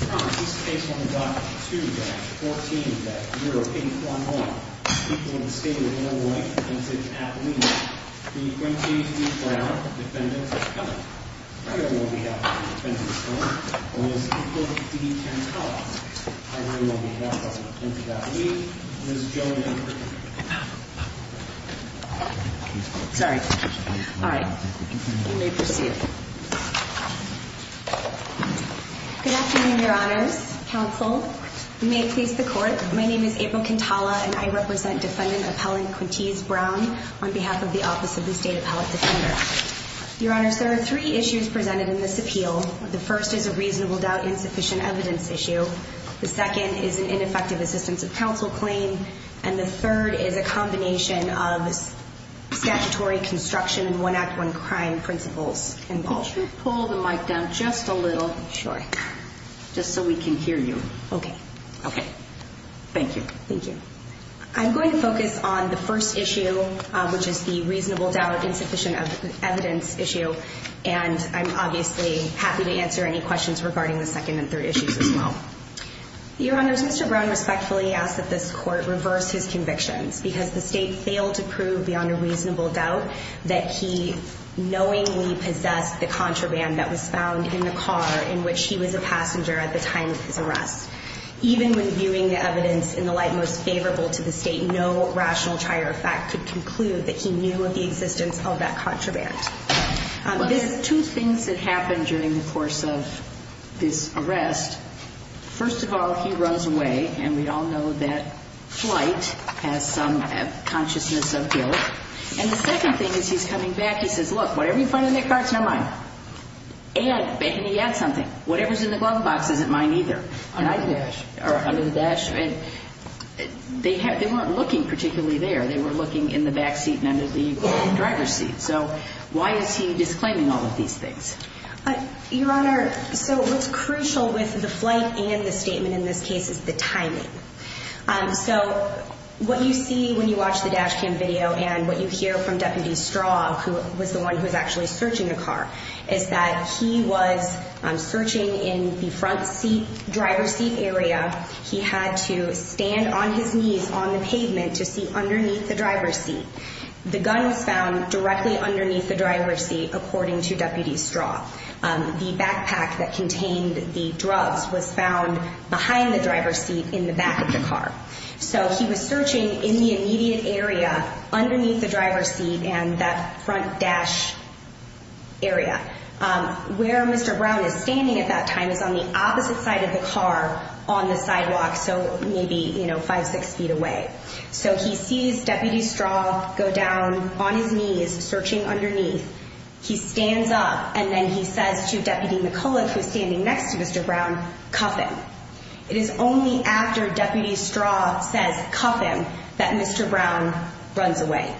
Brown, this is based on the document 2-14-081-1, speaking of the State of Illinois Vintage Athlete, the 20-3 Brown defendants are coming. I know on behalf of the defendants' firm, I will support the 10 call-outs. I know on behalf of the Vintage Athlete, Ms. Joan A. Kirkman. Sorry. All right. You may proceed. Good afternoon, your honors, counsel. You may please the court. My name is April Quintala, and I represent defendant appellant Quintise Brown on behalf of the Office of the State Appellate Defender. Your honors, there are three issues presented in this appeal. The first is a reasonable doubt insufficient evidence issue. The second is an ineffective assistance of counsel claim. And the third is a combination of statutory construction and one act, one crime principles involved. Could you pull the mic down just a little? Sure. Just so we can hear you. OK. OK. Thank you. Thank you. I'm going to focus on the first issue, which is the reasonable doubt insufficient evidence issue. And I'm obviously happy to answer any questions regarding the second and third issues as well. Your honors, Mr. Brown respectfully asked that this court reverse his convictions, because the state failed to prove beyond a reasonable doubt that he knowingly possessed the contraband that was found in the car in which he was a passenger at the time of his arrest. Even when viewing the evidence in the light most favorable to the state, no rational trier of fact could conclude that he knew of the existence of that contraband. There's two things that happened during the course of this arrest. First of all, he runs away. And we all know that flight has some consciousness of guilt. And the second thing is he's coming back. He says, look, whatever you find in that car, it's not mine. And maybe he had something. Whatever's in the glove box isn't mine either. Under the dash. Or under the dash. And they weren't looking particularly there. They were looking in the back seat and under the driver's seat. So why is he disclaiming all of these things? Your honor, so what's crucial with the flight and the statement in this case is the timing. So what you see when you watch the dash cam video and what you hear from Deputy Straw, who was the one who was actually searching the car, is that he was searching in the front driver's seat area. He had to stand on his knees on the pavement to see underneath the driver's seat. The gun was found directly underneath the driver's seat, according to Deputy Straw. The backpack that contained the drugs was found behind the driver's seat in the back of the car. So he was searching in the immediate area underneath the driver's seat and that front dash area. Where Mr. Brown is standing at that time is on the opposite side of the car on the sidewalk. So maybe five, six feet away. So he sees Deputy Straw go down on his knees searching underneath. He stands up. And then he says to Deputy McCullough, who's standing next to Mr. Brown, cuff him. It is only after Deputy Straw says, cuff him, that Mr. Brown runs away.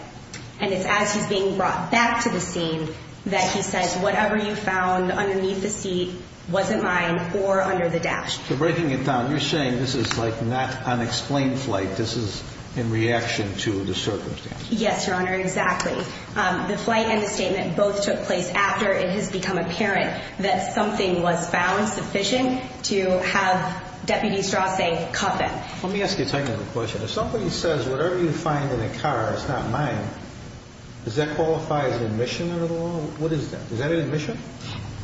And it's as he's being brought back to the scene that he says, whatever you found underneath the seat wasn't mine or under the dash. So breaking it down, you're saying this is like not unexplained flight. This is in reaction to the circumstance. Yes, Your Honor, exactly. The flight and the statement both took place after it has become apparent that something was found sufficient to have Deputy Straw say, cuff him. Let me ask you a technical question. If somebody says, whatever you find in the car is not mine, does that qualify as an admission under the law? What is that? Is that an admission?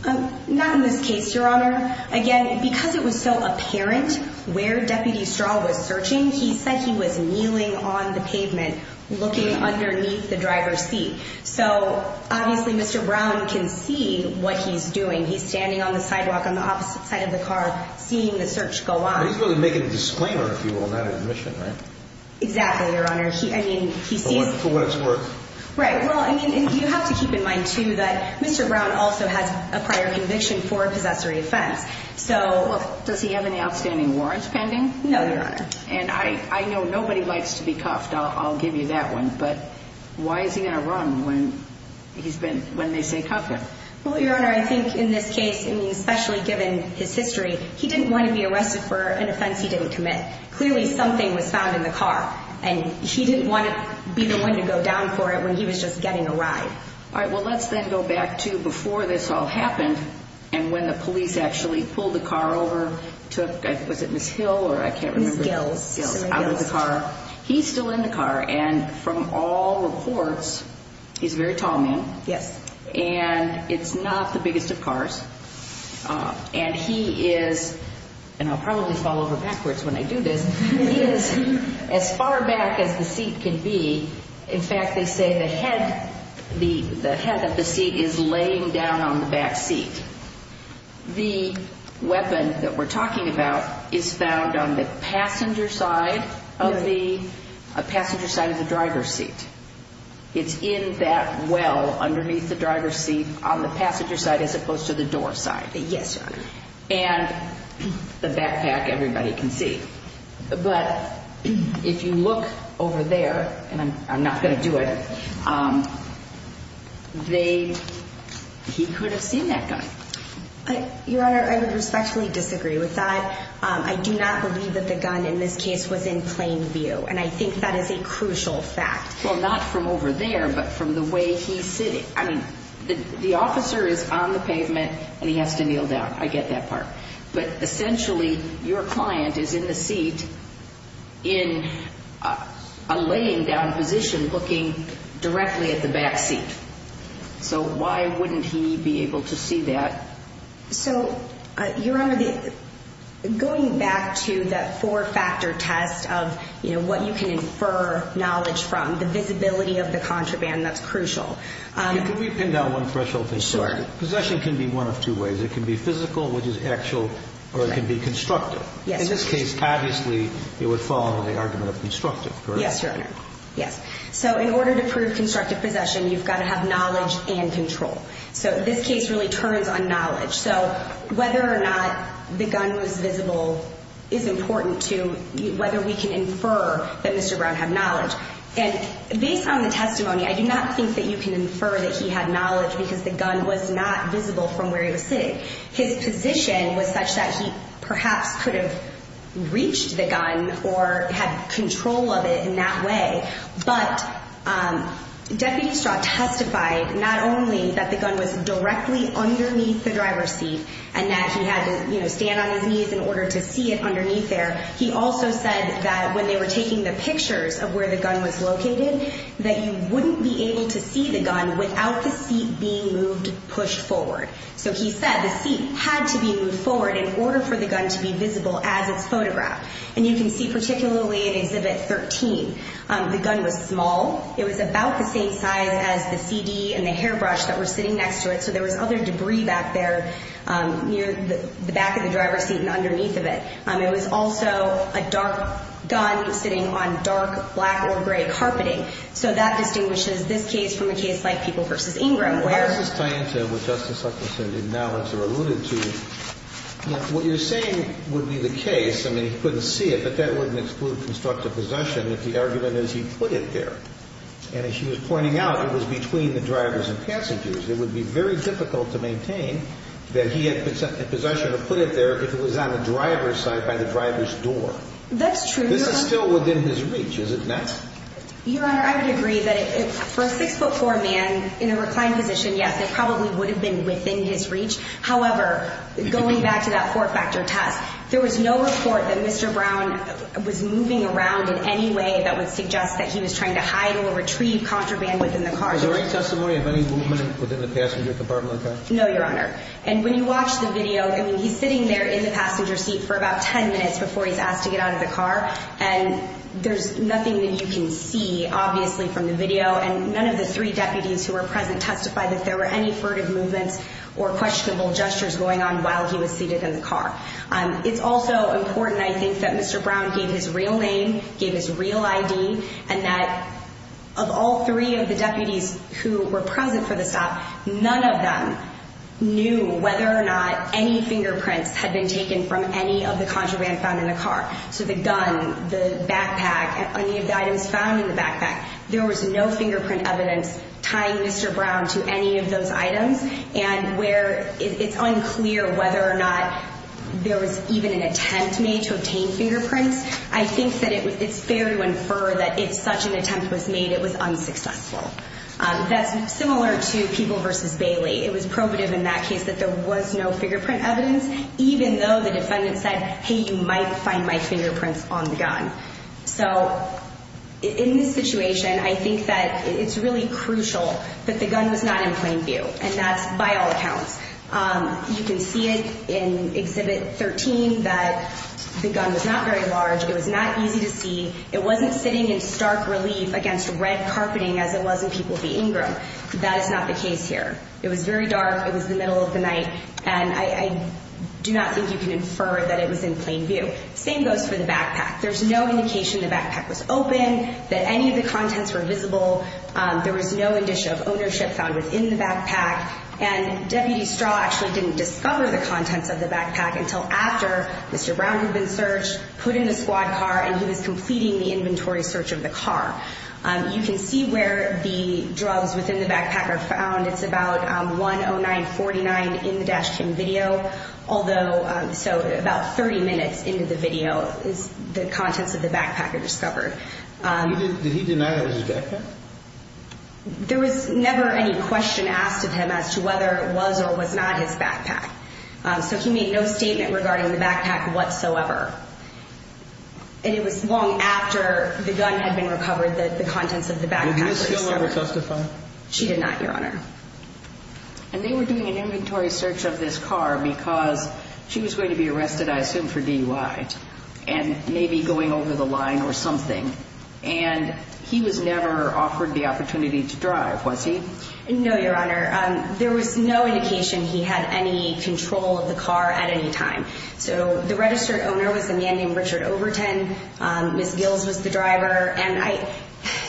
Not in this case, Your Honor. Again, because it was so apparent where Deputy Straw was searching, he said he was kneeling on the pavement looking underneath the driver's seat. So obviously, Mr. Brown can see what he's doing. He's standing on the sidewalk on the opposite side of the car seeing the search go on. But he's really making a disclaimer, if you will, on that admission, right? Exactly, Your Honor. I mean, he sees. For what it's worth. Right. Well, I mean, you have to keep in mind, too, that Mr. Brown also has a prior conviction for a possessory offense. So. Well, does he have any outstanding warrants pending? No, Your Honor. And I know nobody likes to be cuffed. I'll give you that one. But why is he going to run when they say, cuff him? Well, Your Honor, I think in this case, and especially given his history, he didn't want to be arrested for an offense he didn't commit. Clearly, something was found in the car. And he didn't want to be the one to go down for it when he was just getting a ride. All right. Well, let's then go back to before this all happened and when the police actually pulled the car over, took, was it Ms. Hill or I can't remember? Ms. Gills. Gills. Out of the car. He's still in the car. And from all reports, he's a very tall man. Yes. And it's not the biggest of cars. And he is, and I'll probably fall over backwards when I do this, he is as far back as the seat can be. In fact, they say the head of the seat is laying down on the back seat. The weapon that we're talking about is found on the passenger side of the driver's seat. It's in that well underneath the driver's seat on the passenger side as opposed to the door side. Yes, Your Honor. And the backpack, everybody can see. But if you look over there, and I'm not going to do it, he could have seen that gun. Your Honor, I would respectfully disagree with that. I do not believe that the gun in this case was in plain view. And I think that is a crucial fact. Well, not from over there, but from the way he's sitting. I mean, the officer is on the pavement, and he has to kneel down. I get that part. But essentially, your client is in the seat in a laying down position looking directly at the back seat. So why wouldn't he be able to see that? So Your Honor, going back to that four factor test of what you can infer knowledge from, the visibility of the contraband, that's crucial. Can we pin down one threshold thing? Sure. Possession can be one of two ways. It can be physical, which is actual, or it can be constructive. In this case, obviously, it would fall under the argument of constructive, correct? Yes, Your Honor. Yes. So in order to prove constructive possession, you've got to have knowledge and control. So this case really turns on knowledge. So whether or not the gun was visible is important to whether we can infer that Mr. Brown had knowledge. And based on the testimony, I do not think that you can infer that he had knowledge because the gun was not visible from where he was sitting. His position was such that he perhaps could have reached the gun or had control of it in that way. But Deputy Straw testified not only that the gun was directly underneath the driver's seat and that he had to stand on his knees in order to see it underneath there. He also said that when they were taking the pictures of where the gun was located, that he wouldn't be able to see the gun without the seat being moved push forward. So he said the seat had to be moved forward in order for the gun to be visible as it's photographed. And you can see particularly in Exhibit 13, the gun was small. It was about the same size as the CD and the hairbrush that were sitting next to it. So there was other debris back there near the back of the driver's seat and underneath of it. It was also a dark gun sitting on dark black or gray carpeting. So that distinguishes this case from a case like People v. Ingram, where- Why does this tie into what Justice Hutchinson did now as you alluded to? What you're saying would be the case. I mean, he couldn't see it, but that wouldn't exclude constructive possession if the argument is he put it there. And as she was pointing out, it was between the drivers and passengers. It would be very difficult to maintain that he had possession to put it there if it was on the driver's side by the driver's door. That's true. This is still within his reach. Is it not? Your Honor, I would agree that for a 6 foot 4 man in a reclined position, yes, it probably would have been within his reach. However, going back to that four factor test, there was no report that Mr. Brown was moving around in any way that would suggest that he was trying to hide or retrieve contraband within the car. Is there any testimony of any movement within the passenger compartment of the car? No, Your Honor. And when you watch the video, I mean, he's sitting there in the passenger seat for about 10 minutes before he's asked to get out of the car. And there's nothing that you can see, obviously, from the video. And none of the three deputies who were present testified that there were any furtive movements or questionable gestures going on while he was seated in the car. It's also important, I think, that Mr. Brown gave his real name, gave his real ID, and that of all three of the deputies who were present for the stop, none of them knew whether or not any fingerprints had been taken from any of the contraband found in the car. So the gun, the backpack, any of the items found in the backpack, there was no fingerprint evidence tying Mr. Brown to any of those items. And where it's unclear whether or not there was even an attempt made to obtain fingerprints, I think that it's fair to infer that if such an attempt was made, it was unsuccessful. That's similar to People v. Bailey. It was probative in that case that there was no fingerprint evidence, even though the defendant said, hey, you might find my fingerprints on the gun. So in this situation, I think that it's really crucial that the gun was not in plain view. And that's by all accounts. You can see it in Exhibit 13 that the gun was not very large. It was not easy to see. It wasn't sitting in stark relief against red carpeting as it was in People v. Ingram. That is not the case here. It was very dark. It was the middle of the night. And I do not think you can infer that it was in plain view. Same goes for the backpack. There's no indication the backpack was open, that any of the contents were visible. There was no indicia of ownership found within the backpack. And Deputy Straw actually didn't discover the contents of the backpack until after Mr. Brown had been searched, put in the squad car, and he was completing the inventory search of the car. You can see where the drugs within the backpack are found. It's about 109.49 in the dash cam video. Although, so about 30 minutes into the video is the contents of the backpack are discovered. Did he deny that it was his backpack? There was never any question asked of him as to whether it was or was not his backpack. So he made no statement regarding the backpack whatsoever. And it was long after the gun had been recovered that the contents of the backpack were discovered. Did Ms. Gill ever testify? She did not, Your Honor. And they were doing an inventory search of this car because she was going to be arrested, I assume, for DUI and maybe going over the line or something. And he was never offered the opportunity to drive, was he? No, Your Honor. There was no indication he had any control of the car at any time. So the registered owner was a man named Richard Overton. Ms. Gill was the driver. And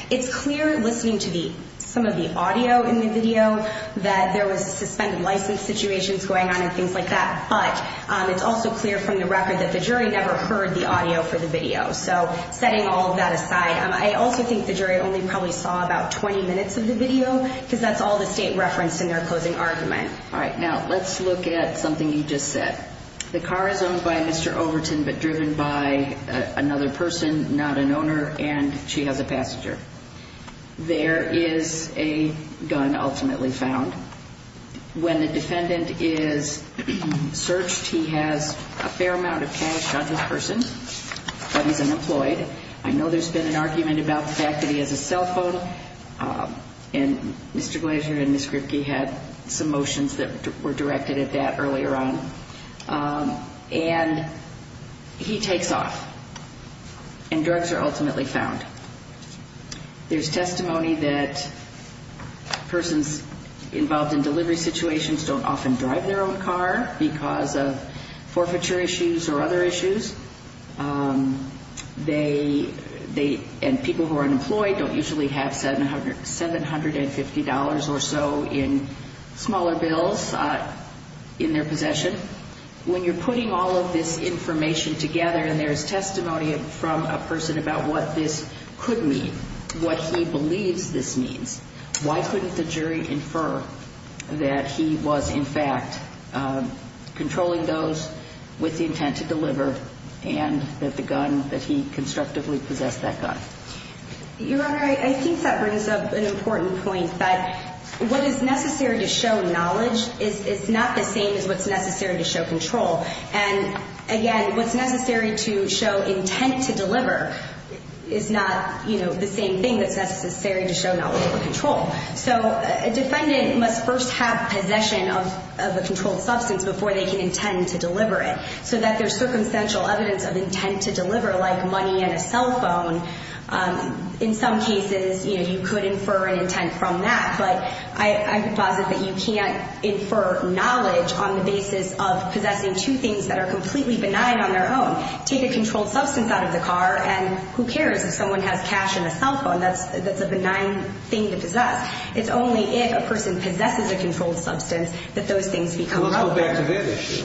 it's clear listening to some of the audio in the video that there was suspended license situations going on and things like that. But it's also clear from the record that the jury never heard the audio for the video. So setting all of that aside, I also think the jury only probably saw about 20 minutes of the video because that's all the state referenced in their closing argument. All right, now let's look at something you just said. The car is owned by Mr. Overton but driven by another person, not an owner. And she has a passenger. There is a gun ultimately found. When the defendant is searched, he has a fair amount of cash on his person, but he's unemployed. I know there's been an argument about the fact that he has a cell phone. And Mr. Glazier and Ms. Gripke had some motions that were directed at that earlier on. And he takes off. And drugs are ultimately found. There's testimony that persons involved in delivery situations don't often drive their own car because of forfeiture issues or other issues. And people who are unemployed don't usually have $750 or so in smaller bills in their possession. When you're putting all of this information together and there is testimony from a person about what this could mean, what he believes this means, why couldn't the jury infer that he was, in fact, controlling those with the intent to deliver and that the gun that he constructively possessed that gun? Your Honor, I think that brings up an important point that what is necessary to show knowledge is not the same as what's necessary to show control. And again, what's necessary to show intent to deliver is not the same thing that's necessary to show knowledge or control. So a defendant must first have possession of a controlled substance before they can intend to deliver it. So that there's circumstantial evidence of intent to deliver, like money and a cell phone. In some cases, you could infer an intent from that. But I would posit that you can't infer knowledge on the basis of possessing two things that are completely benign on their own. Take a controlled substance out of the car, and who cares if someone has cash and a cell phone? That's a benign thing to possess. It's only if a person possesses a controlled substance that those things become relevant. Well, I'll go back to that issue.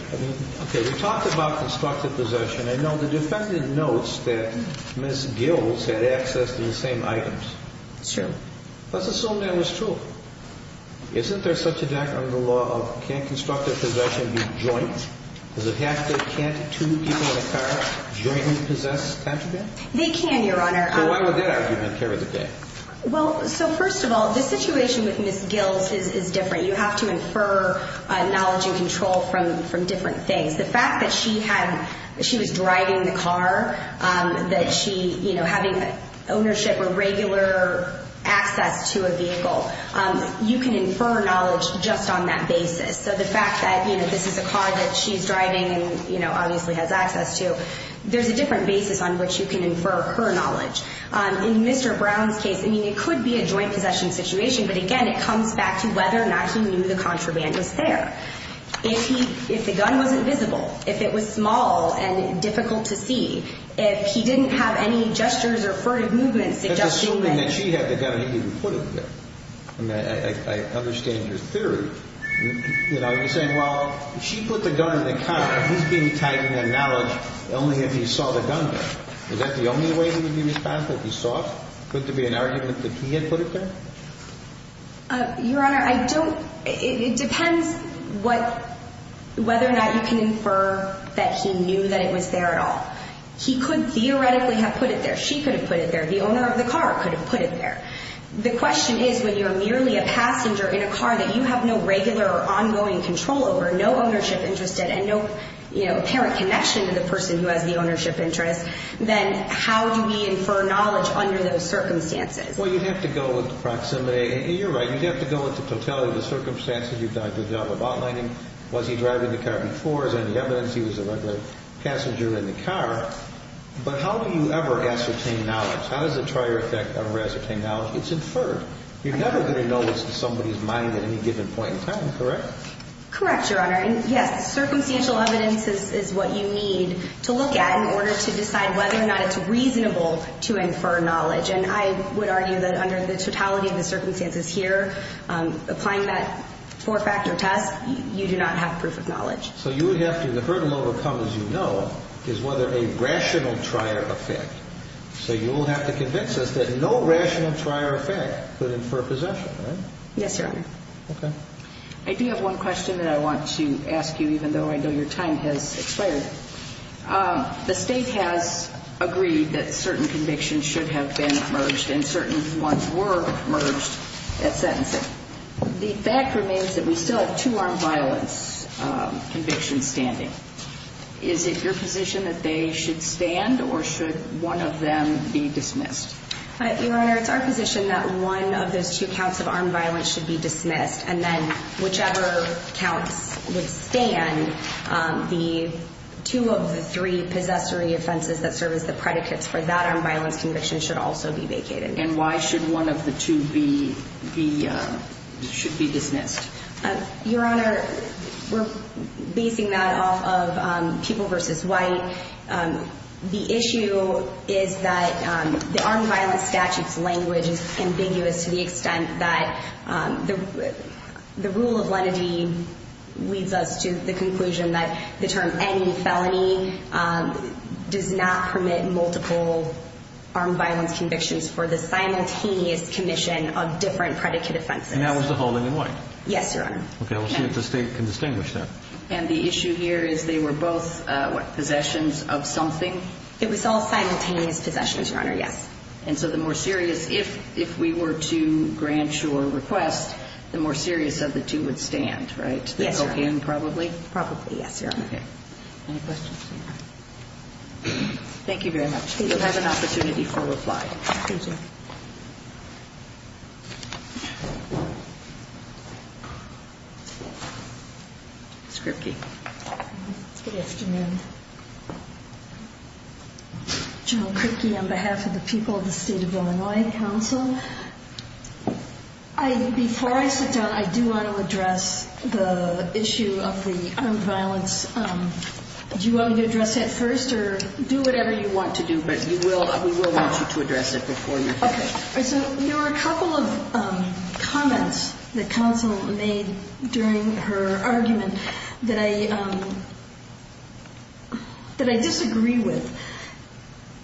OK, we talked about constructive possession. I know the defendant notes that Ms. Gills had access to the same items. It's true. Let's assume that was true. Isn't there such a thing under the law that can't constructive possession be joint? Does it have to be can't two people in a car jointly possess cash and debt? They can, Your Honor. So why would that argument carry the case? Well, so first of all, the situation with Ms. Gills is different. You have to infer knowledge and control from different things. that she having ownership or regular access to a vehicle, you can infer knowledge just on that basis. So the fact that this is a car that she's driving and obviously has access to, there's a different basis on which you can infer her knowledge. In Mr. Brown's case, I mean, it could be a joint possession situation. But again, it comes back to whether or not he knew the contraband was there. If the gun wasn't visible, if it was small and difficult to see, if he didn't have any gestures or furtive movements suggesting that she had the gun, he didn't put it there. I mean, I understand your theory. You know, you're saying, well, she put the gun in the car. He's being tagged in that knowledge only if he saw the gun there. Is that the only way he would be responsible, if he saw it? Could it be an argument that he had put it there? Your Honor, I don't, it depends whether or not you can infer that he knew that it was there at all. He could theoretically have put it there. She could have put it there. The owner of the car could have put it there. The question is, when you're merely a passenger in a car that you have no regular or ongoing control over, no ownership interest, and no apparent connection to the person who has the ownership interest, then how do we infer knowledge under those circumstances? Well, you'd have to go with the proximity. You're right. You'd have to go with the totality of the circumstances you've done the job of outlining. Was he driving the car before? Is there any evidence he was a regular passenger in the car? But how do you ever ascertain knowledge? How does the trier effect ever ascertain knowledge? It's inferred. You're never going to know what's in somebody's mind at any given point in time, correct? Correct, Your Honor. And yes, circumstantial evidence is what you need to look at in order to decide whether or not it's reasonable to infer knowledge. And I would argue that under the totality of the circumstances here, applying that four-factor test, you do not have proof of knowledge. So you would have to, the hurdle to overcome, as you know, is whether a rational trier effect. So you will have to convince us that no rational trier effect could infer possession, right? Yes, Your Honor. OK. I do have one question that I want to ask you, even though I know your time has expired. The state has agreed that certain convictions should have been merged, and certain ones were merged at sentencing. The fact remains that we still have two-armed violence convictions standing. Is it your position that they should stand, or should one of them be dismissed? Your Honor, it's our position that one of those two counts of armed violence should be dismissed. And then whichever counts would stand, the two of the three possessory offenses that serve as the predicates for that armed violence conviction should also be vacated. And why should one of the two be dismissed? Your Honor, we're basing that off of people versus white. The issue is that the armed violence statute's language is ambiguous to the extent that the rule of lenity leads us to the conclusion that the term any felony does not permit multiple armed violence convictions for the simultaneous commission of different predicate offenses. And that was the holding in white? Yes, Your Honor. OK, we'll see if the state can distinguish that. And the issue here is they were both, what, possessions of something? It was all simultaneous possessions, Your Honor, yes. And so the more serious, if we were to grant your request, the more serious of the two would stand, right? Yes, Your Honor. Again, probably? Probably, yes, Your Honor. OK. Any questions? Thank you very much. You'll have an opportunity for reply. Thank you. Ms. Kripke. Good afternoon. General Kripke, on behalf of the people of the State of Illinois Council. Before I sit down, I do want to address the issue of the armed violence. Do you want me to address that first? Or do whatever you want to do. But we will want you to address it before you address it. OK. So there were a couple of comments that counsel made during her argument that I disagree with.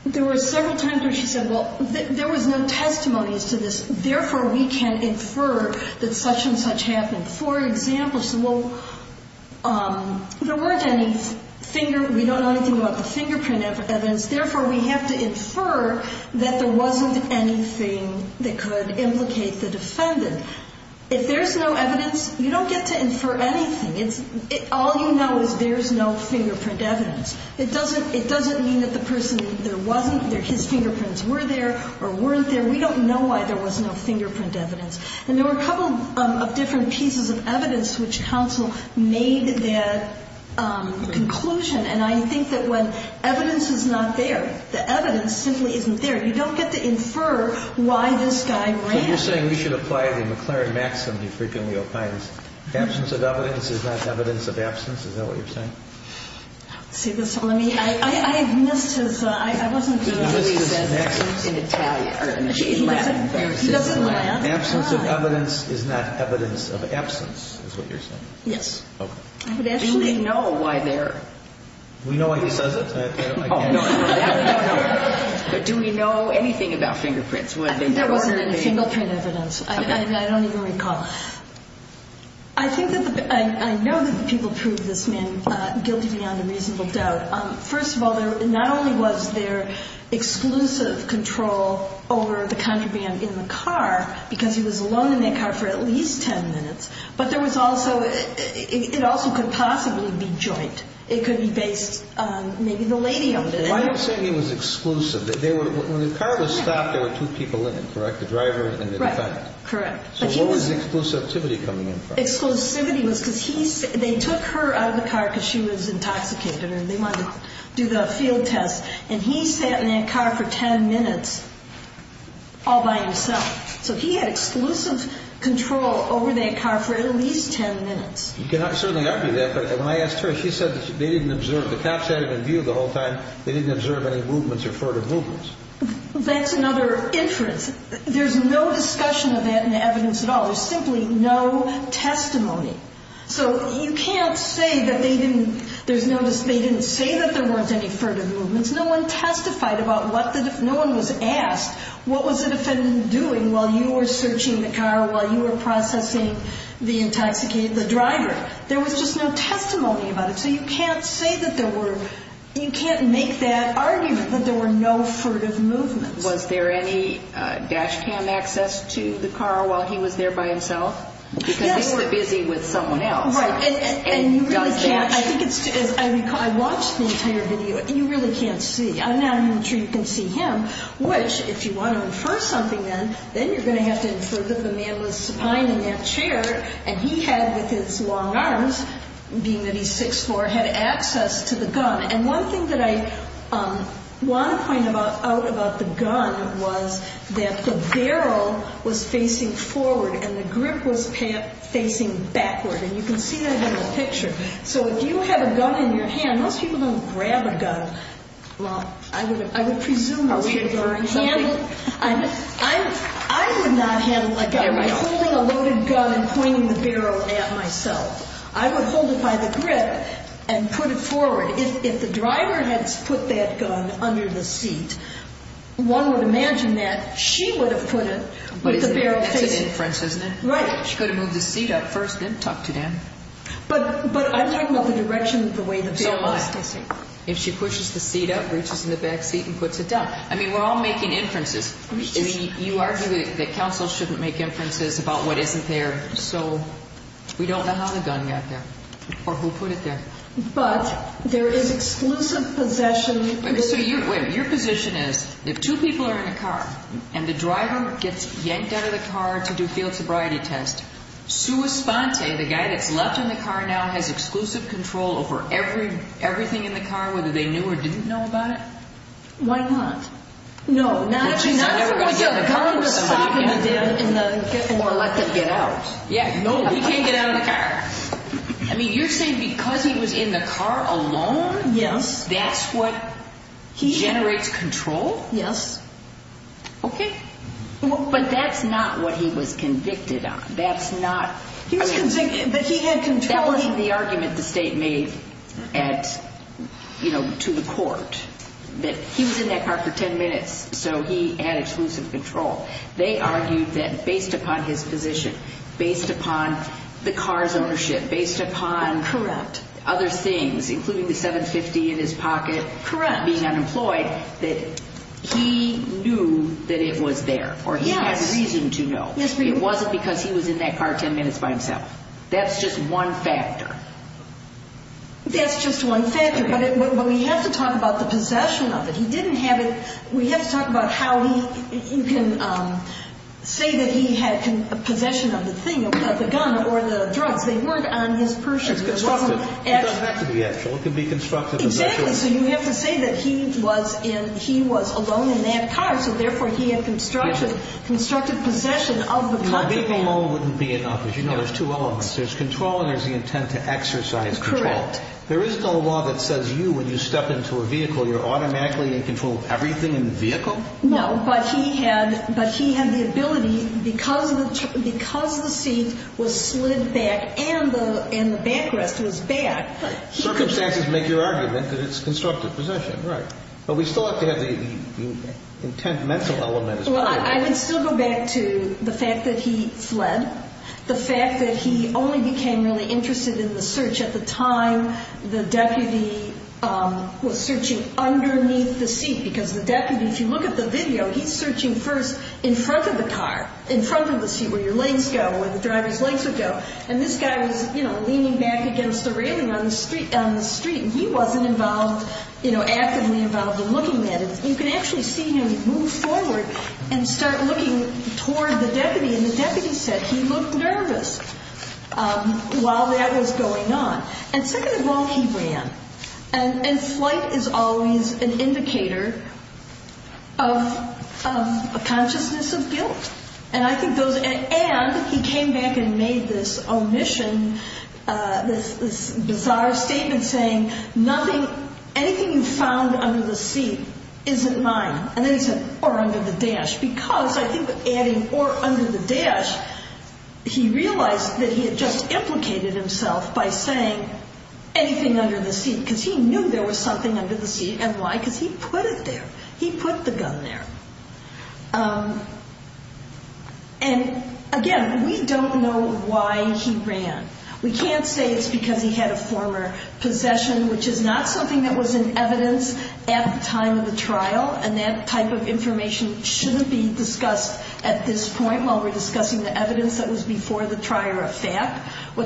There were several times where she said, well, there was no testimonies to this. Therefore, we can infer that such and such happened. For example, she said, well, there weren't any finger, we don't know anything about the fingerprint evidence. Therefore, we have to infer that there wasn't anything that could implicate the defendant. If there's no evidence, you don't get to infer anything. All you know is there's no fingerprint evidence. It doesn't mean that the person there wasn't, that his fingerprints were there or weren't there. We don't know why there was no fingerprint evidence. And there were a couple of different pieces of evidence which counsel made that conclusion. And I think that when evidence is not there, the evidence simply isn't there. You don't get to infer why this guy ran. So you're saying we should apply the McLaren-Maxim that you frequently opine. Absence of evidence is not evidence of absence. Is that what you're saying? See, this one, I mean, I missed his, I wasn't sure. He said absence in Italian, or in Latin. Absence of evidence is not evidence of absence is what you're saying. Yes. OK. Do we know why there? We know why he says it. Oh, no. No, no. Do we know anything about fingerprints? I think there wasn't any fingerprint evidence. I don't even recall. I think that the, I know that people prove this man guilty beyond a reasonable doubt. First of all, there not only was there exclusive control over the contraband in the car, because he was alone in that car for at least 10 minutes, but there was also, it also could possibly be joint. It could be based on maybe the lady of it. Why are you saying it was exclusive? When the car was stopped, there were two people in it, correct? The driver and the defect? Right. Correct. So what was the exclusivity coming in from? Exclusivity was because they took her out of the car because she was intoxicated, and they wanted to do the field test. And he sat in that car for 10 minutes all by himself. So he had exclusive control over that car for at least 10 minutes. You can certainly argue that, but when I asked her, she said that they didn't observe. The cops had him in view the whole time. They didn't observe any movements or furtive movements. That's another inference. There's no discussion of that in the evidence at all. There's simply no testimony. So you can't say that they didn't, there's no, they didn't say that there weren't any furtive movements. No one testified about what the, no one was asked, what was the defendant doing while you were searching the car, while you were processing the intoxicated, the driver. There was just no testimony about it. So you can't say that there were, you can't make that argument that there were no furtive movements. Was there any dash cam access to the car while he was there by himself? Because he's busy with someone else. Right, and you really can't, I think it's, I watched the entire video, and you really can't see. I'm not even sure you can see him, which if you want to infer something then, then you're going to have to infer that the man was behind in that chair and he had, with his long arms, being that he's 6'4", had access to the gun. And one thing that I want to point out about the gun was that the barrel was facing forward and the grip was facing backward, and you can see that in the picture. So if you have a gun in your hand, most people don't grab a gun. Well, I would presume that's what you're handling. I would not handle a guy by holding a loaded gun and pointing the barrel at myself. I would hold it by the grip and put it forward. If the driver had put that gun under the seat, one would imagine that she would have put it with the barrel facing. That's a difference, isn't it? Right. She could have moved the seat up first and then tucked it in. But I'm talking about the direction of the way the barrel was facing. If she pushes the seat up, reaches in the back seat, and puts it down. I mean, we're all making inferences. You argue that counsel shouldn't make inferences about what isn't there. So we don't know how the gun got there or who put it there. But there is exclusive possession. So your position is if two people are in a car and the driver gets yanked out of the car to do a field sobriety test, sua sponte, the guy that's left in the car now, has exclusive control over everything in the car, whether they knew or didn't know about it? Why not? No. But she's never going to get in the car with someone again. Or let them get out. Yeah, no, he can't get out of the car. I mean, you're saying because he was in the car alone, that's what generates control? Yes. Okay. But that's not what he was convicted on. That's not. But he had control. That wasn't the argument the state made to the court, that he was in that car for 10 minutes, so he had exclusive control. They argued that based upon his position, based upon the car's ownership, based upon other things, including the $750 in his pocket, being unemployed, that he knew that it was there, or he had reason to know. Yes, ma'am. It wasn't because he was in that car 10 minutes by himself. That's just one factor. That's just one factor. But we have to talk about the possession of it. He didn't have it. We have to talk about how he can say that he had possession of the thing, of the gun or the drugs. They weren't on his purse. It's constructed. It doesn't have to be actual. It can be constructed. Exactly. So you have to say that he was alone in that car, so therefore he had constructed possession of the car. Being alone wouldn't be enough. As you know, there's two elements. There's control and there's the intent to exercise control. Correct. There is no law that says you, when you step into a vehicle, you're automatically in control of everything in the vehicle? No, but he had the ability, because the seat was slid back and the backrest was back. Circumstances make your argument that it's constructed possession, right. But we still have to have the intent mental element. Well, I would still go back to the fact that he fled, the fact that he only became really interested in the search at the time the deputy was searching underneath the seat, because the deputy, if you look at the video, he's searching first in front of the car, in front of the seat, where your legs go, where the driver's legs would go. And this guy was leaning back against the railing on the street and he wasn't actively involved in looking at it. You can actually see him move forward and start looking toward the deputy and the deputy said he looked nervous while that was going on. And second of all, he ran. And flight is always an indicator of a consciousness of guilt. And he came back and made this omission, this bizarre statement saying, nothing, anything you found under the seat isn't mine. And then he said, or under the dash, because I think adding or under the dash, he realized that he had just implicated himself by saying anything under the seat, because he knew there was something under the seat. And why? Because he put it there. He put the gun there. And again, we don't know why he ran. We can't say it's because he had a former possession, which is not something that was in evidence at the time of the trial and that type of information shouldn't be discussed at this point while we're discussing the evidence that was before the trial or a fact. We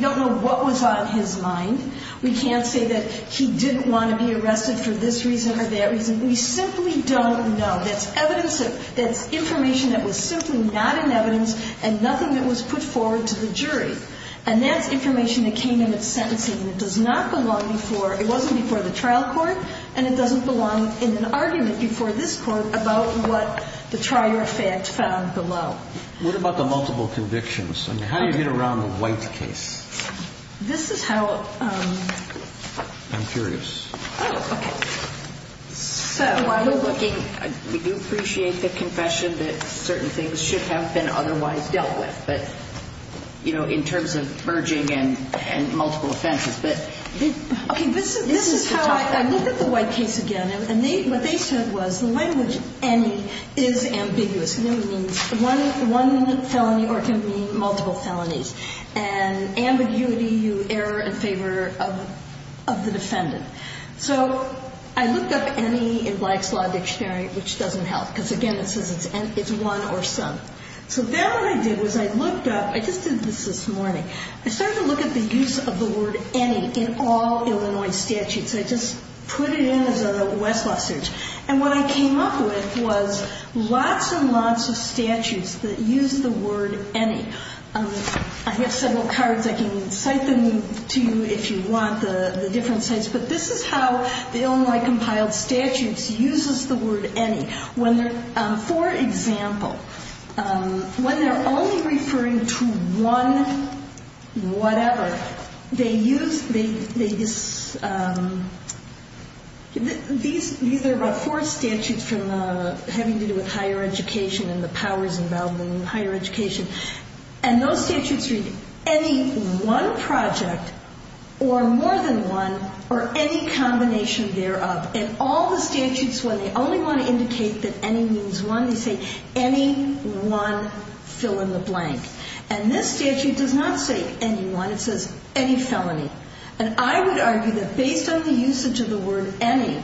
don't know what was on his mind. We can't say that he didn't want to be arrested for this reason or that reason. We simply don't know. That's information that was simply not in evidence and nothing that was put forward to the jury. And that's information that came in at sentencing. It does not belong before, it wasn't before the trial court, and it doesn't belong in an argument before this court about what the trial or fact found below. What about the multiple convictions? I mean, how do you get around the White case? This is how... I'm curious. Oh, okay. So while we're looking, we do appreciate the confession that certain things should have been otherwise dealt with, but, you know, in terms of merging and multiple offenses, but... Okay, this is how I look at the White case again, and what they said was the language, any, is ambiguous. Any means one felony or can mean multiple felonies. And ambiguity, you err in favor of the defendant. So I looked up any in Black's Law Dictionary, which doesn't help, because, again, it says it's one or some. So then what I did was I looked up... I just did this this morning. I started to look at the use of the word any in all Illinois statutes. I just put it in as a Westlaw search, and what I came up with was lots and lots of statutes that use the word any. I have several cards. I can cite them to you if you want, the different sites, but this is how the Illinois Compiled Statutes uses the word any. For example, when they're only referring to one whatever, they use... These are the four statutes having to do with higher education and the powers involved in higher education, and those statutes read any one project or more than one or any combination thereof. And all the statutes, when they only want to indicate that any means one, they say any one fill in the blank. And this statute does not say any one. It says any felony. And I would argue that based on the usage of the word any,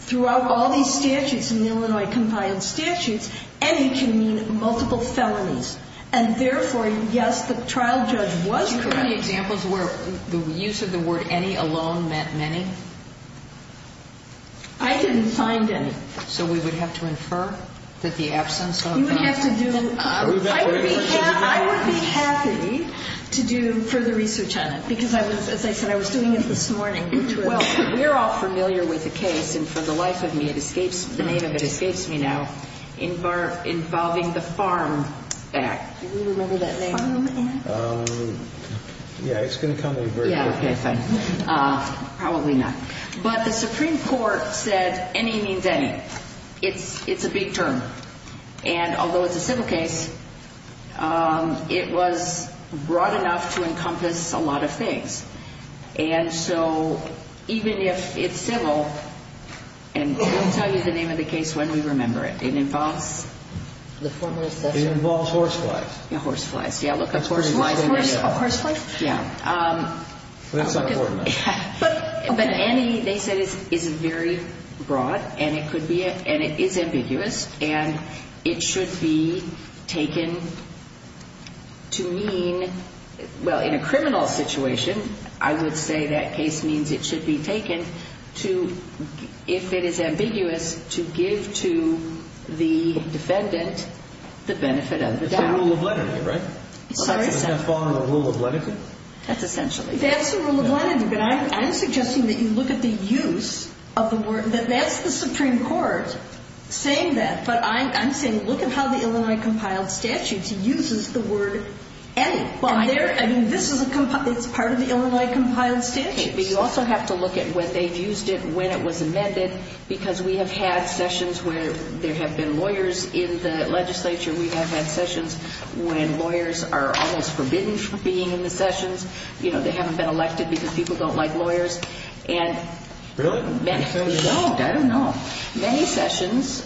throughout all these statutes in the Illinois Compiled Statutes, any can mean multiple felonies. And therefore, yes, the trial judge was correct. Do you have any examples where the use of the word any alone meant many? I didn't find any. So we would have to infer that the absence of... You would have to do... I would be happy to do further research on it because, as I said, I was doing it this morning. Well, we're all familiar with the case, and for the life of me, the name of it escapes me now. Involving the Farm Act. Do we remember that name? Farm Act? Yeah, it's going to come up very quickly. Okay, fine. Probably not. But the Supreme Court said any means any. It's a big term. And although it's a civil case, it was broad enough to encompass a lot of things. And so even if it's civil, And we'll tell you the name of the case when we remember it. It involves... It involves horseflies. Yeah, horseflies. Yeah, look up horseflies. Horseflies? Yeah. But that's not important. But any, they said, is very broad, and it could be, and it is ambiguous, and it should be taken to mean, well, in a criminal situation, I would say that case means it should be taken to, if it is ambiguous, to give to the defendant the benefit of the doubt. It's the rule of lenity, right? Sorry? Does that fall under the rule of lenity? That's essentially it. That's the rule of lenity, but I'm suggesting that you look at the use of the word, that that's the Supreme Court saying that, but I'm saying look at how the Illinois Compiled Statutes uses the word any. Well, there, I mean, this is a, it's part of the Illinois Compiled Statutes. But you also have to look at when they've used it, when it was amended, because we have had sessions where there have been lawyers in the legislature. We have had sessions when lawyers are almost forbidden from being in the sessions. You know, they haven't been elected because people don't like lawyers. Really? I don't know. Many sessions,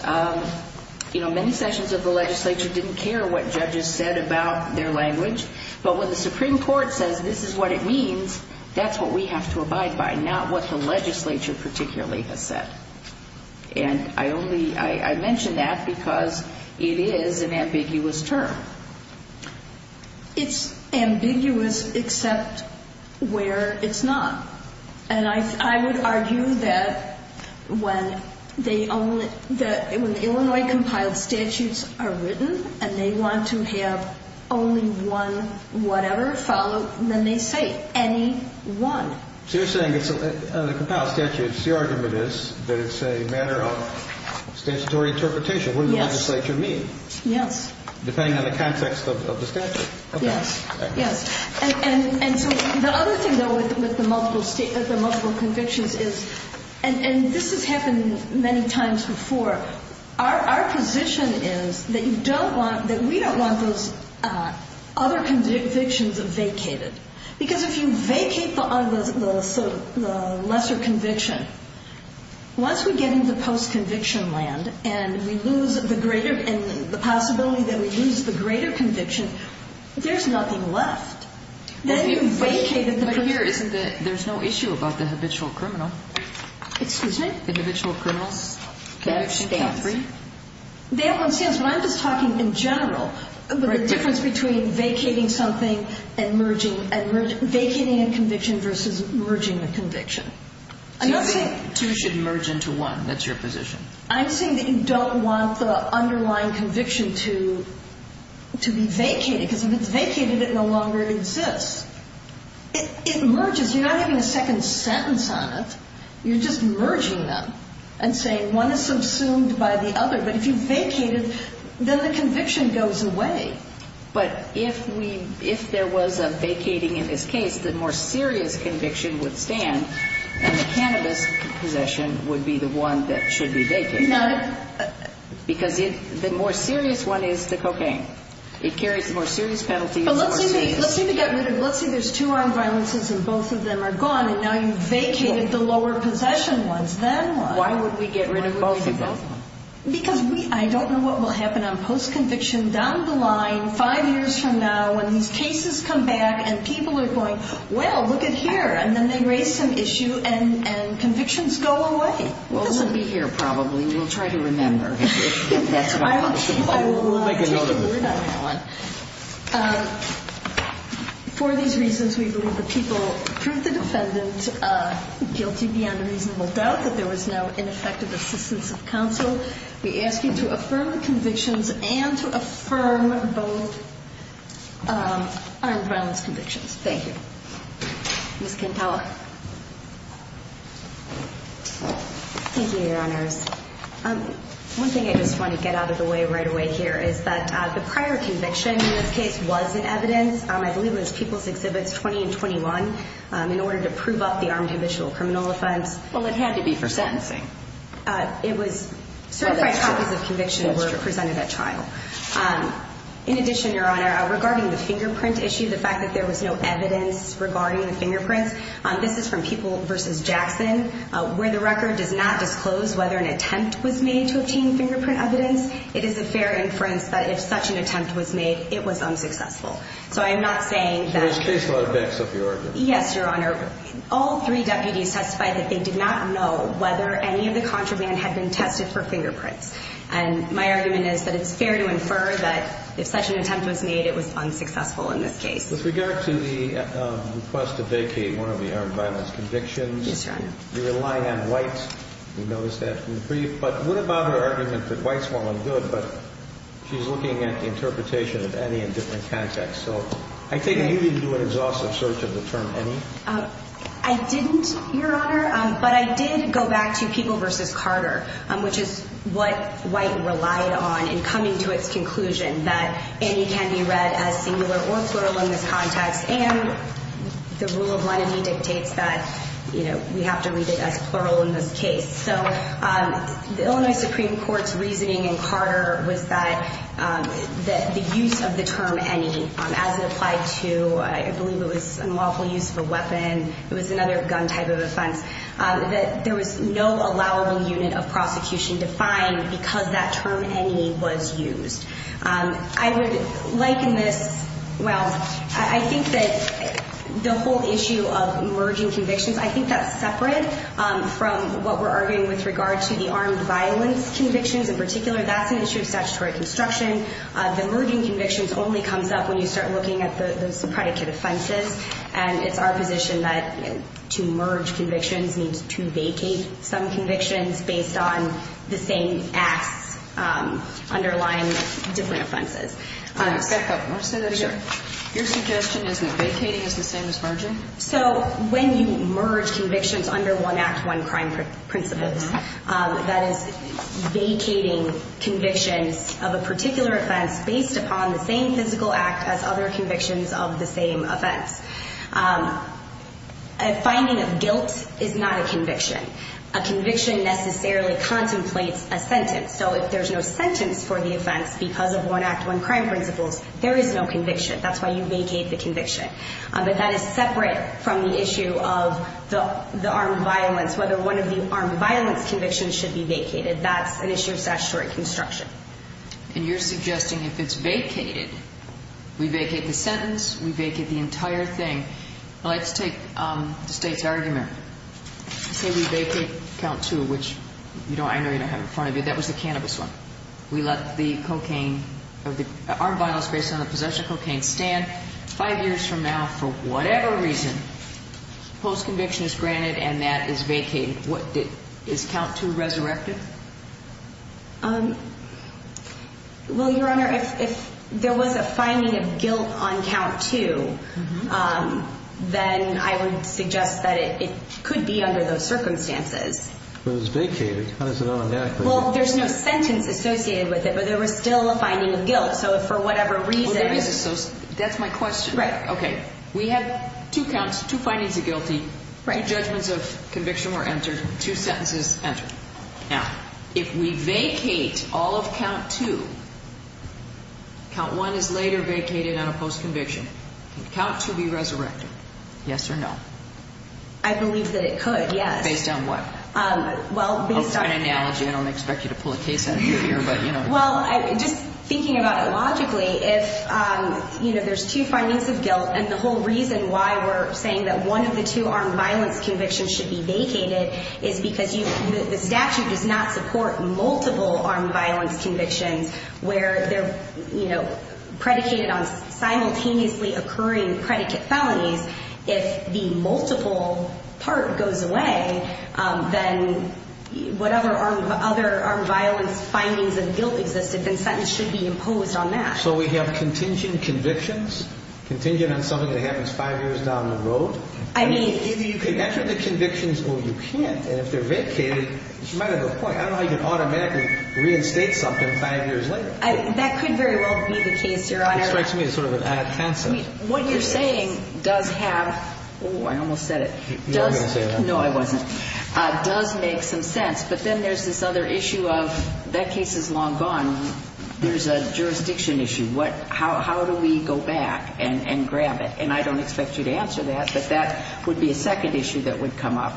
you know, many sessions of the legislature didn't care what judges said about their language, but when the Supreme Court says this is what it means, that's what we have to abide by, not what the legislature particularly has said. And I only, I mention that because it is an ambiguous term. It's ambiguous except where it's not. And I would argue that when they only, when the Illinois Compiled Statutes are written and they want to have only one whatever followed, then they say any one. So you're saying it's the Compiled Statutes, the argument is that it's a matter of statutory interpretation. Yes. What does the legislature mean? Yes. Depending on the context of the statute. Yes, yes. And so the other thing, though, with the multiple convictions is, and this has happened many times before, our position is that you don't want, that we don't want those other convictions vacated. Because if you vacate the lesser conviction, once we get into post-conviction land and we lose the greater, and the possibility that we lose the greater conviction, there's nothing left. But here isn't the, there's no issue about the habitual criminal. Excuse me? The habitual criminals. They have one stance. They have one stance, but I'm just talking in general. The difference between vacating something and merging, vacating a conviction versus merging a conviction. I'm not saying. Two should merge into one. That's your position. I'm saying that you don't want the underlying conviction to be vacated. Because if it's vacated, it no longer exists. It merges. You're not having a second sentence on it. You're just merging them and saying one is subsumed by the other. But if you vacated, then the conviction goes away. But if we, if there was a vacating in this case, the more serious conviction would stand, and the cannabis possession would be the one that should be vacated. No. Because the more serious one is the cocaine. It carries the more serious penalties. Let's say there's two armed violences and both of them are gone, and now you've vacated the lower possession ones. Then what? Why would we get rid of both of them? Because I don't know what will happen on post-conviction down the line, five years from now, when these cases come back and people are going, well, look at here. And then they raise some issue and convictions go away. Well, we'll be here probably. We'll try to remember if that's what happens. We'll take a word on that one. For these reasons, we believe the people proved the defendant guilty beyond a reasonable doubt, that there was no ineffective assistance of counsel. We ask you to affirm the convictions and to affirm both armed violence convictions. Thank you. Ms. Campala. Thank you, Your Honors. One thing I just want to get out of the way right away here is that the prior conviction in this case was in evidence. I believe it was People's Exhibits 20 and 21, in order to prove up the armed habitual criminal offense. Well, it had to be for sentencing. It was certified copies of conviction were presented at trial. In addition, Your Honor, regarding the fingerprint issue, the fact that there was no evidence regarding the fingerprints, this is from People v. Jackson. Where the record does not disclose whether an attempt was made to obtain fingerprint evidence, it is a fair inference that if such an attempt was made, it was unsuccessful. So I am not saying that – So this case was backed up, Your Honor. Yes, Your Honor. All three deputies testified that they did not know whether any of the contraband had been tested for fingerprints. And my argument is that it's fair to infer that if such an attempt was made, it was unsuccessful in this case. With regard to the request to vacate one of the armed violence convictions. Yes, Your Honor. You relied on White. We noticed that from the brief. But what about her argument that White's wrong and good, but she's looking at the interpretation of any in different contexts? So I take it you didn't do an exhaustive search of the term any? I didn't, Your Honor. But I did go back to People v. Carter, which is what White relied on in coming to its conclusion that any can be read as singular or plural in this context. And the rule of lenity dictates that, you know, we have to read it as plural in this case. So the Illinois Supreme Court's reasoning in Carter was that the use of the term any, as it applied to, I believe it was unlawful use of a weapon, it was another gun type of offense, that there was no allowable unit of prosecution defined because that term any was used. I would liken this, well, I think that the whole issue of merging convictions, I think that's separate from what we're arguing with regard to the armed violence convictions in particular. That's an issue of statutory construction. The merging convictions only comes up when you start looking at those predicate offenses. And it's our position that to merge convictions means to vacate some convictions based on the same acts underlying different offenses. Back up. Want to say that again? Sure. Your suggestion is that vacating is the same as merging? So when you merge convictions under one act, one crime principle, that is vacating convictions of a particular offense based upon the same physical act as other convictions of the same offense. A finding of guilt is not a conviction. A conviction necessarily contemplates a sentence. So if there's no sentence for the offense because of one act, one crime principles, there is no conviction. That's why you vacate the conviction. But that is separate from the issue of the armed violence, whether one of the armed violence convictions should be vacated. That's an issue of statutory construction. And you're suggesting if it's vacated, we vacate the sentence, we vacate the entire thing. Well, let's take the state's argument. Say we vacate count two, which I know you don't have in front of you. That was the cannabis one. We let the cocaine or the armed violence based on the possession of cocaine stand. Five years from now, for whatever reason, post-conviction is granted and that is vacated. Is count two resurrected? Well, Your Honor, if there was a finding of guilt on count two, then I would suggest that it could be under those circumstances. But it was vacated. How does it own an act? Well, there's no sentence associated with it. But there was still a finding of guilt. So for whatever reason. That's my question. Right. Okay. We have two counts, two findings of guilty, two judgments of conviction were entered, two sentences entered. Now, if we vacate all of count two, count one is later vacated on a post-conviction. Can count two be resurrected? Yes or no? I believe that it could, yes. Based on what? It's an analogy. I don't expect you to pull a case out of your ear. Well, just thinking about it logically, if there's two findings of guilt, and the whole reason why we're saying that one of the two armed violence convictions should be vacated is because the statute does not support multiple armed violence convictions where they're predicated on simultaneously occurring predicate felonies. If the multiple part goes away, then whatever other armed violence findings of guilt existed, then sentence should be imposed on that. So we have contingent convictions, contingent on something that happens five years down the road. I mean, if you could enter the convictions, oh, you can't. And if they're vacated, you might have a point. I don't know how you can automatically reinstate something five years later. That could very well be the case, Your Honor. It strikes me as sort of an ad hoc concept. I mean, what you're saying does have, oh, I almost said it. You weren't going to say that. No, I wasn't. It does make some sense. But then there's this other issue of that case is long gone. There's a jurisdiction issue. How do we go back and grab it? And I don't expect you to answer that, but that would be a second issue that would come up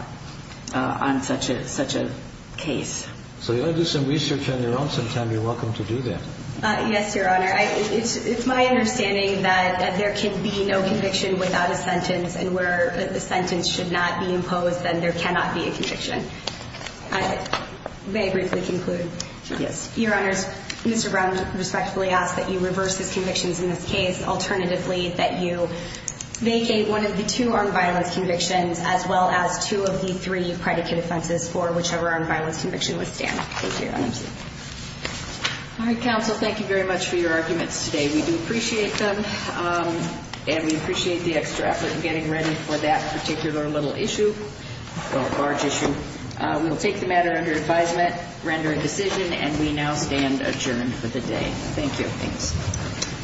on such a case. So you ought to do some research on your own sometime. You're welcome to do that. Yes, Your Honor. It's my understanding that there can be no conviction without a sentence, and where the sentence should not be imposed, then there cannot be a conviction. May I briefly conclude? Yes. Your Honors, Mr. Brown respectfully asks that you reverse his convictions in this case. Alternatively, that you vacate one of the two armed violence convictions as well as two of the three predicate offenses for whichever armed violence conviction was stamped. Thank you, Your Honor. All right, counsel. Thank you very much for your arguments today. We do appreciate them, and we appreciate the extra effort in getting ready for that particular little issue, or large issue. We will take the matter under advisement, render a decision, and we now stand adjourned for the day. Thank you. Thanks.